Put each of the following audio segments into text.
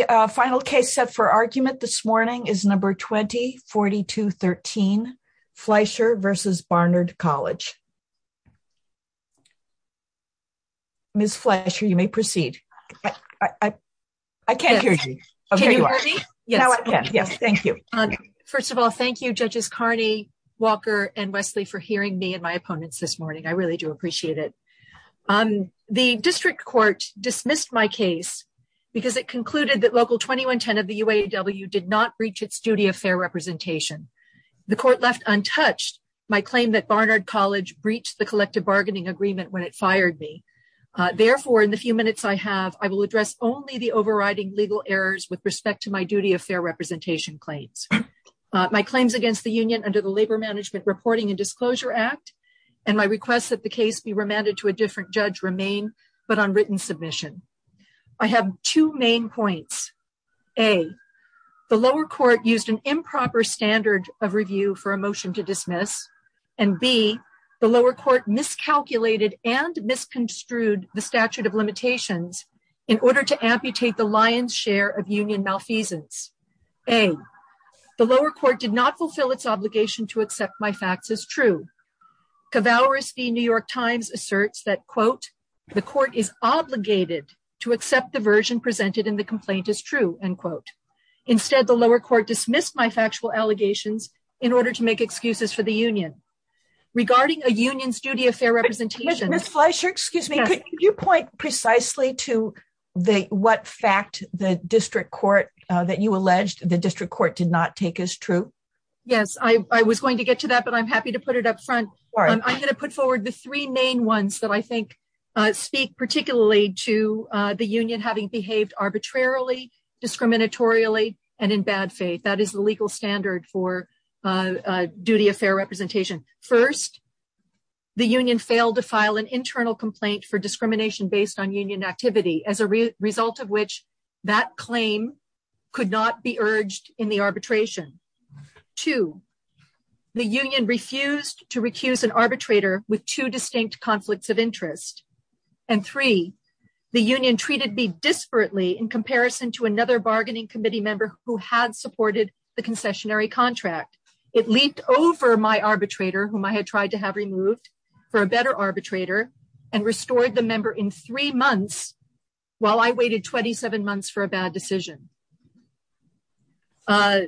The final case set for argument this morning is No. 20-4213, Fleischer v. Barnard College. Ms. Fleischer, you may proceed. I can't hear you. Can you hear me? Yes. Yes, thank you. First of all, thank you, Judges Carney, Walker, and Wesley for hearing me and my opponents this morning. I really do appreciate it. The district court dismissed my case because it concluded that Local 2110 of the UAW did not breach its duty of fair representation. The court left untouched my claim that Barnard College breached the collective bargaining agreement when it fired me. Therefore, in the few minutes I have, I will address only the overriding legal errors with respect to my duty of fair representation claims. My claims against the union under the Labor Management Reporting and Disclosure Act and my request that the case be remanded to a different judge remain but on written submission. I have two main points. A. The lower court used an improper standard of review for a motion to dismiss. And B. The lower court miscalculated and misconstrued the statute of limitations in order to amputate the lion's share of union malfeasance. A. The lower court did not fulfill its obligation to accept my facts as true. Cavallaris v. New York Times asserts that, quote, the court is obligated to accept the version presented in the complaint as true, end quote. Instead, the lower court dismissed my factual allegations in order to make excuses for the union. Regarding a union's duty of fair representation. Ms. Fleischer, could you point precisely to what fact the district court that you alleged the district court did not take as true? Yes, I was going to get to that, but I'm happy to put it up front. I'm going to put forward the three main ones that I think speak particularly to the union having behaved arbitrarily, discriminatorily, and in bad faith. That is the legal standard for duty of fair representation. First, the union failed to file an internal complaint for discrimination based on union activity, as a result of which that claim could not be urged in the arbitration. Two, the union refused to recuse an arbitrator with two distinct conflicts of interest. And three, the union treated me disparately in comparison to another bargaining committee member who had supported the concessionary contract. It leaped over my arbitrator, whom I had tried to have removed for a better arbitrator, and restored the member in three months, while I waited 27 months for a bad decision. I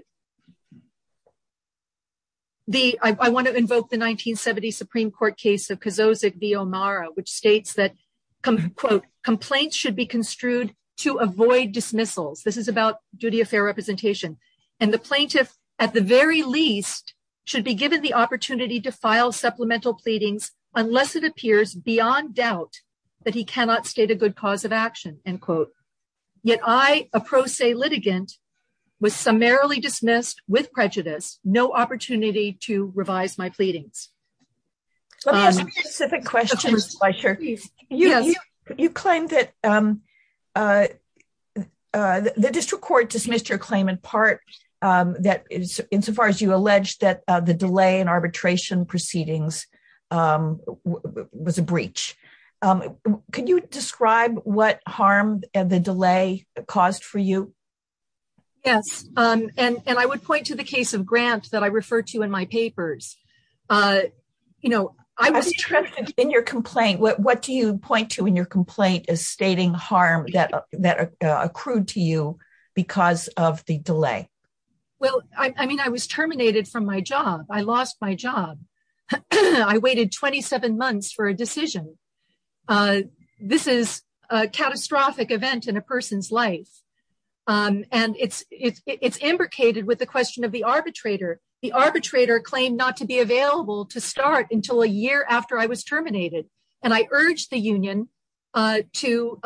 want to invoke the 1970 Supreme Court case of Kozozik v. O'Mara, which states that, quote, Complaints should be construed to avoid dismissals. This is about duty of fair representation. And the plaintiff, at the very least, should be given the opportunity to file supplemental pleadings unless it appears beyond doubt that he cannot state a good cause of action, end quote. Yet I, a pro se litigant, was summarily dismissed with prejudice. No opportunity to revise my pleadings. Let me ask you a specific question, Ms. Fletcher. You claim that the district court dismissed your claim in part, insofar as you allege that the delay in arbitration proceedings was a breach. Could you describe what harm the delay caused for you? Yes, and I would point to the case of Grant that I referred to in my papers. I was interested in your complaint. What do you point to in your complaint as stating harm that accrued to you because of the delay? Well, I mean, I was terminated from my job. I lost my job. I waited 27 months for a decision. This is a catastrophic event in a person's life. And it's it's it's implicated with the question of the arbitrator. The arbitrator claimed not to be available to start until a year after I was terminated. And I urged the union to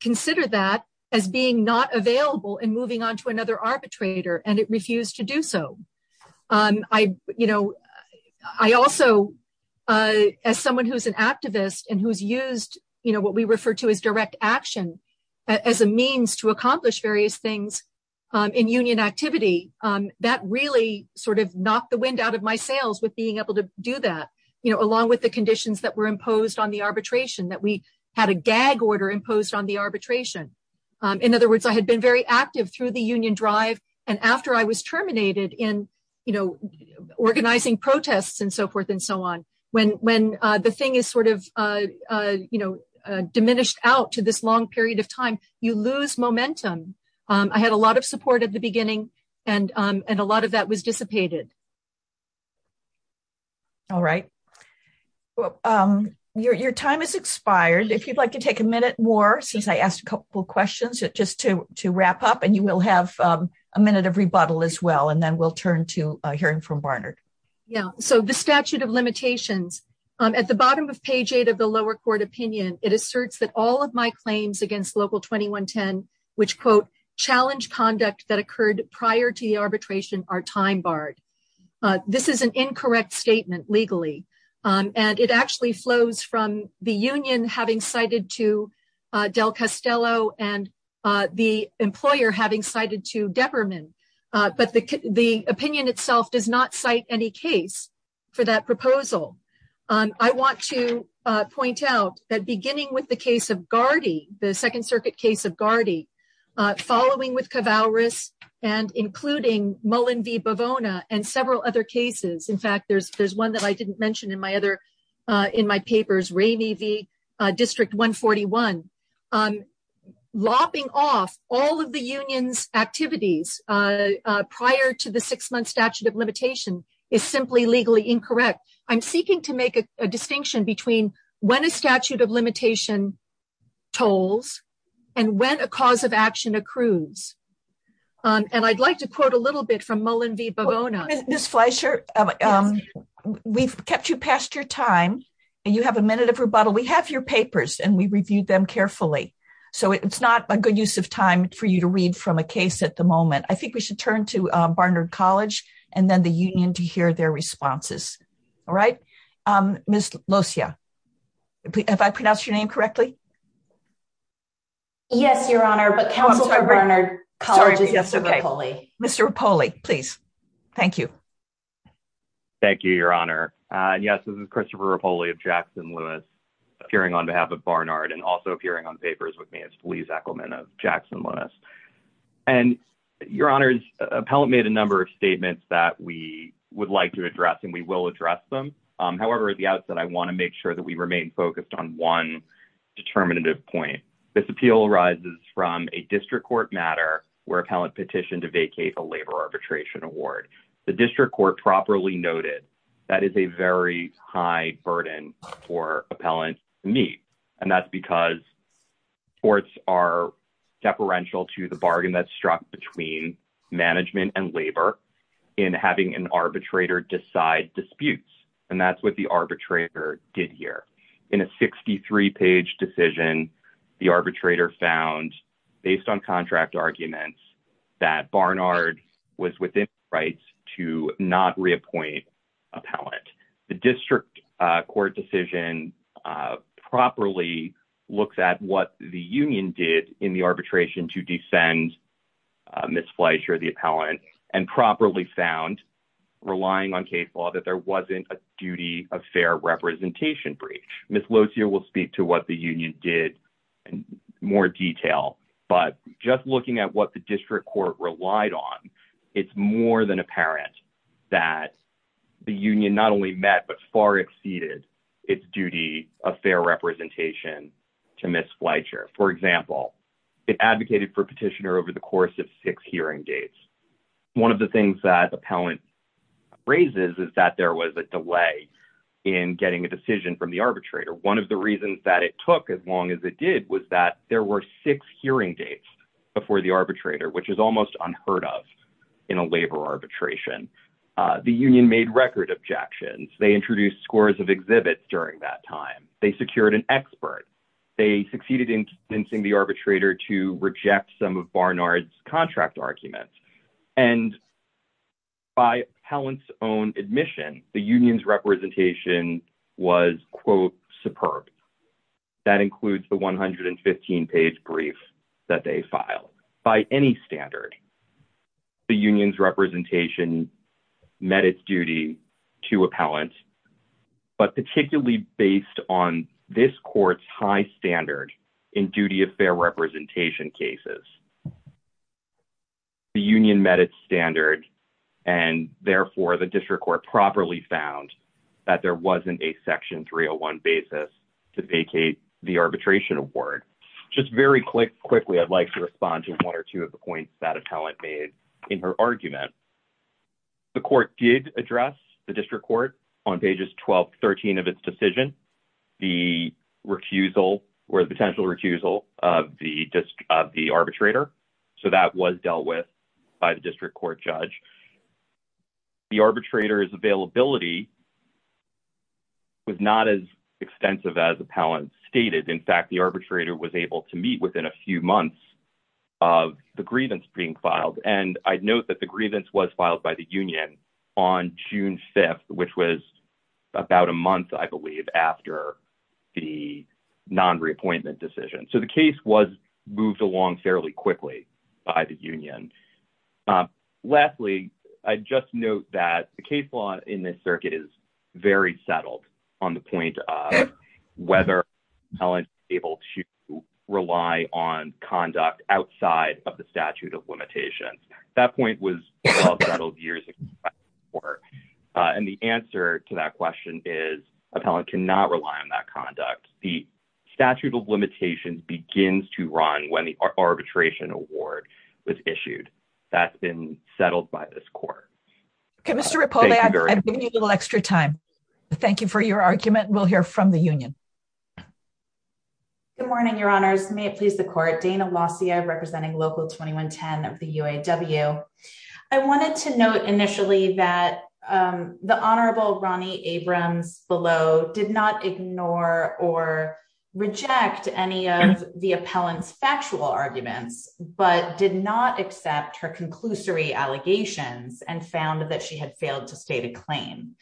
consider that as being not available and moving on to another arbitrator. And it refused to do so. I, you know, I also as someone who's an activist and who's used, you know, what we refer to as direct action as a means to accomplish various things in union activity. That really sort of knocked the wind out of my sails with being able to do that, you know, along with the conditions that were imposed on the arbitration that we had a gag order imposed on the arbitration. In other words, I had been very active through the union drive. And after I was terminated in, you know, organizing protests and so forth and so on, when when the thing is sort of, you know, diminished out to this long period of time, you lose momentum. I had a lot of support at the beginning and and a lot of that was dissipated. All right. Well, your time has expired. If you'd like to take a minute more, since I asked a couple of questions, just to to wrap up and you will have a minute of rebuttal as well. And then we'll turn to hearing from Barnard. Yeah, so the statute of limitations at the bottom of page eight of the lower court opinion, it asserts that all of my claims against local 2110, which, quote, challenge conduct that occurred prior to the arbitration are time barred. This is an incorrect statement legally, and it actually flows from the union having cited to Del Castello and the employer having cited to Depperman. But the opinion itself does not cite any case for that proposal. I want to point out that beginning with the case of Gardy, the Second Circuit case of Gardy, following with Cavallaris and including Mullin v. Bavona and several other cases. In fact, there's there's one that I didn't mention in my other in my papers, Ramey v. District 141. Lopping off all of the union's activities prior to the six month statute of limitation is simply legally incorrect. I'm seeking to make a distinction between when a statute of limitation tolls and when a cause of action accrues. And I'd like to quote a little bit from Mullin v. Bavona. Ms. Fleischer, we've kept you past your time and you have a minute of rebuttal. We have your papers and we reviewed them carefully, so it's not a good use of time for you to read from a case at the moment. I think we should turn to Barnard College and then the union to hear their responses. All right. Ms. Locia, have I pronounced your name correctly? Yes, Your Honor, but Councilor Barnard College is yes. Mr. Rapoli, please. Thank you. Thank you, Your Honor. Yes, this is Christopher Rapoli of Jackson Lewis appearing on behalf of Barnard and also appearing on papers with me as Felice Ackleman of Jackson Lewis. And Your Honors, appellant made a number of statements that we would like to address and we will address them. However, at the outset, I want to make sure that we remain focused on one determinative point. This appeal arises from a district court matter where appellant petitioned to vacate a labor arbitration award. The district court properly noted that is a very high burden for appellant to meet. And that's because courts are deferential to the bargain that's struck between management and labor in having an arbitrator decide disputes. And that's what the arbitrator did here in a 63 page decision. The arbitrator found based on contract arguments that Barnard was within rights to not reappoint appellant. The district court decision properly looks at what the union did in the arbitration to defend Ms. Fletcher, the appellant, and properly found relying on case law that there wasn't a duty of fair representation breach. Ms. Lozier will speak to what the union did in more detail, but just looking at what the district court relied on, it's more than apparent that the union not only met but far exceeded its duty of fair representation to Ms. Fletcher. For example, it advocated for petitioner over the course of six hearing dates. One of the things that appellant raises is that there was a delay in getting a decision from the arbitrator. One of the reasons that it took as long as it did was that there were six hearing dates before the arbitrator, which is almost unheard of in a labor arbitration. The union made record objections. They introduced scores of exhibits during that time. They secured an expert. They succeeded in convincing the arbitrator to reject some of Barnard's contract arguments. And by appellant's own admission, the union's representation was, quote, superb. That includes the 115-page brief that they filed. By any standard, the union's representation met its duty to appellant, but particularly based on this court's high standard in duty of fair representation cases. The union met its standard, and therefore the district court properly found that there wasn't a section 301 basis to vacate the arbitration award. Just very quickly, I'd like to respond to one or two of the points that appellant made in her argument. The court did address the district court on pages 12 to 13 of its decision, the recusal or the potential recusal of the arbitrator. So that was dealt with by the district court judge. The arbitrator's availability was not as extensive as appellant stated. In fact, the arbitrator was able to meet within a few months of the grievance being filed. And I'd note that the grievance was filed by the union on June 5th, which was about a month, I believe, after the non-reappointment decision. So the case was moved along fairly quickly by the union. Lastly, I'd just note that the case law in this circuit is very settled on the point of whether appellant is able to rely on conduct outside of the statute of limitations. That point was settled years before. And the answer to that question is appellant cannot rely on that conduct. The statute of limitations begins to run when the arbitration award was issued. That's been settled by this court. Okay, Mr. Rapola, I'm giving you a little extra time. Thank you for your argument. We'll hear from the union. Good morning, Your Honors. May it please the court. Dana Lausia representing Local 2110 of the UAW. I wanted to note initially that the Honorable Ronnie Abrams below did not ignore or reject any of the appellant's factual arguments, but did not accept her conclusory allegations and found that she had failed to state a claim.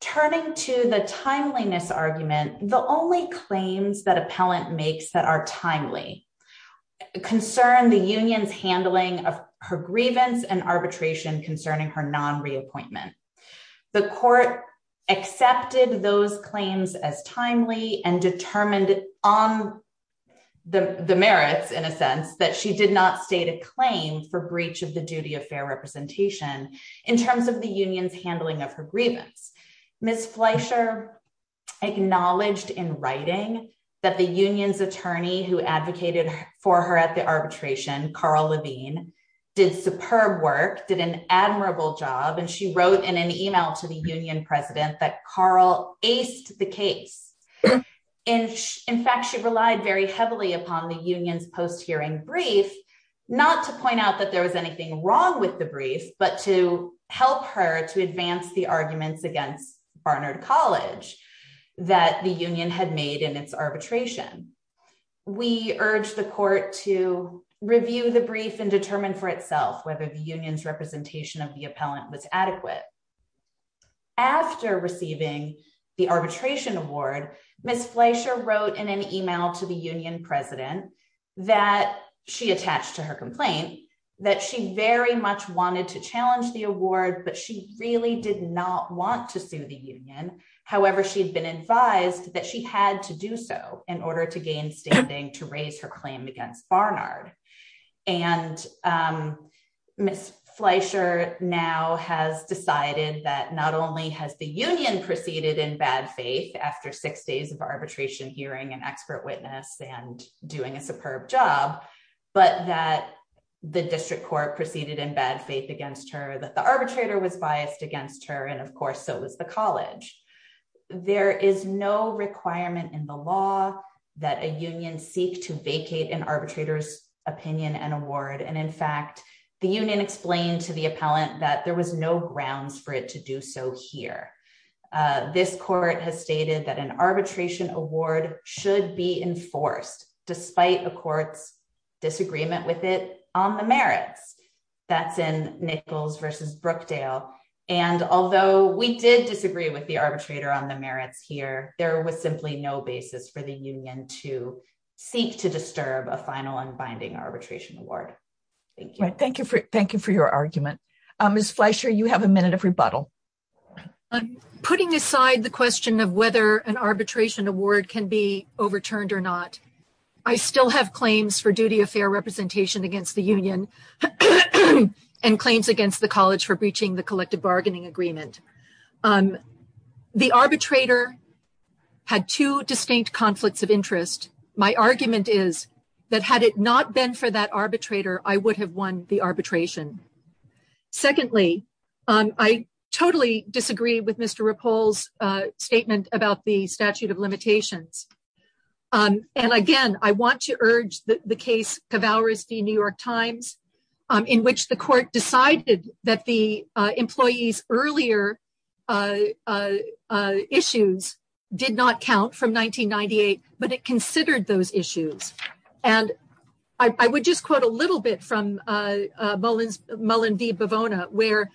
Turning to the timeliness argument, the only claims that appellant makes that are timely concern the union's handling of her grievance and arbitration concerning her non reappointment. The court accepted those claims as timely and determined on the merits in a sense that she did not state a claim for breach of the duty of fair representation in terms of the union's handling of her grievance. Ms. Fleischer acknowledged in writing that the union's attorney who advocated for her at the arbitration, Carl Levine, did superb work, did an admirable job and she wrote in an email to the union president that Carl aced the case. In fact, she relied very heavily upon the union's post hearing brief, not to point out that there was anything wrong with the brief, but to help her to advance the arguments against Barnard College that the union had made in its arbitration. We urge the court to review the brief and determine for itself whether the union's representation of the appellant was adequate. After receiving the arbitration award, Ms. Fleischer wrote in an email to the union president that she attached to her complaint that she very much wanted to challenge the award but she really did not want to sue the union. However, she had been advised that she had to do so in order to gain standing to raise her claim against Barnard. And Ms. Fleischer now has decided that not only has the union proceeded in bad faith after six days of arbitration hearing and expert witness and doing a superb job, but that the district court proceeded in bad faith against her that the arbitrator was biased against her and of course so was the college. There is no requirement in the law that a union seek to vacate an arbitrator's opinion and award and in fact the union explained to the appellant that there was no grounds for it to do so here. This court has stated that an arbitration award should be enforced, despite the court's disagreement with it on the merits. That's in Nichols versus Brookdale. And although we did disagree with the arbitrator on the merits here, there was simply no basis for the union to seek to disturb a final and binding arbitration award. Thank you for your argument. Ms. Fleischer, you have a minute of rebuttal. Putting aside the question of whether an arbitration award can be overturned or not, I still have claims for duty of fair representation against the union and claims against the college for breaching the collective bargaining agreement. The arbitrator had two distinct conflicts of interest. My argument is that had it not been for that arbitrator, I would have won the arbitration. Secondly, I totally disagree with Mr. Rippoll's statement about the statute of limitations. And again, I want to urge the case Cavalry v. New York Times, in which the court decided that the employees' earlier issues did not count from 1998, but it considered those issues. And I would just quote a little bit from Mullen v. Bivona, where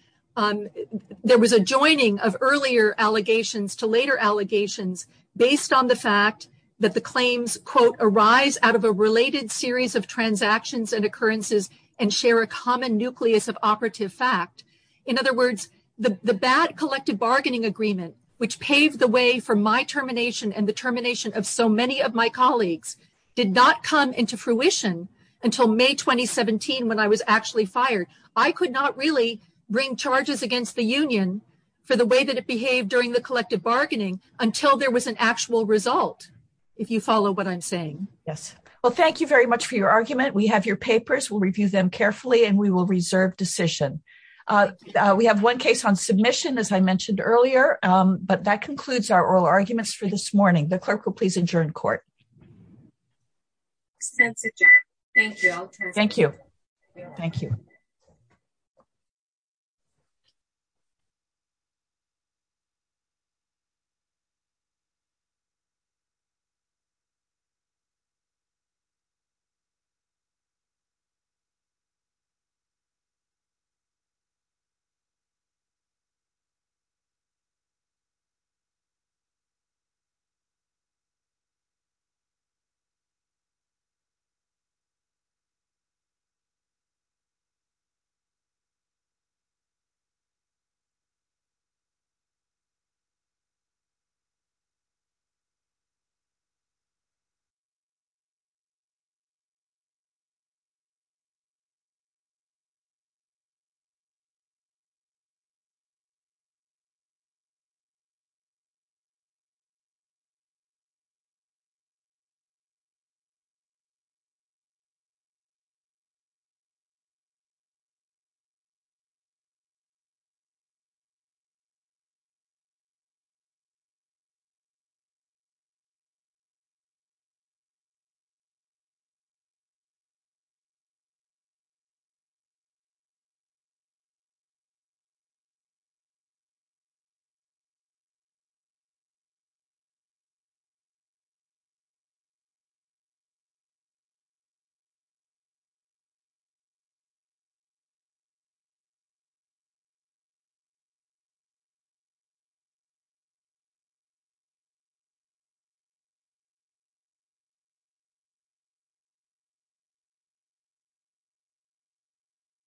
there was a joining of earlier allegations to later allegations, based on the fact that the claims, quote, arise out of a related series of transactions and occurrences and share a common nucleus of operative fact. In other words, the bad collective bargaining agreement, which paved the way for my termination and the termination of so many of my colleagues, did not come into fruition until May 2017, when I was actually fired. I could not really bring charges against the union for the way that it behaved during the collective bargaining until there was an actual result, if you follow what I'm saying. Yes. Well, thank you very much for your argument. We have your papers, we'll review them carefully, and we will reserve decision. We have one case on submission, as I mentioned earlier, but that concludes our oral arguments for this morning. The clerk will please adjourn court. Thank you. Thank you. Thank you. Thank you. Thank you. Thank you.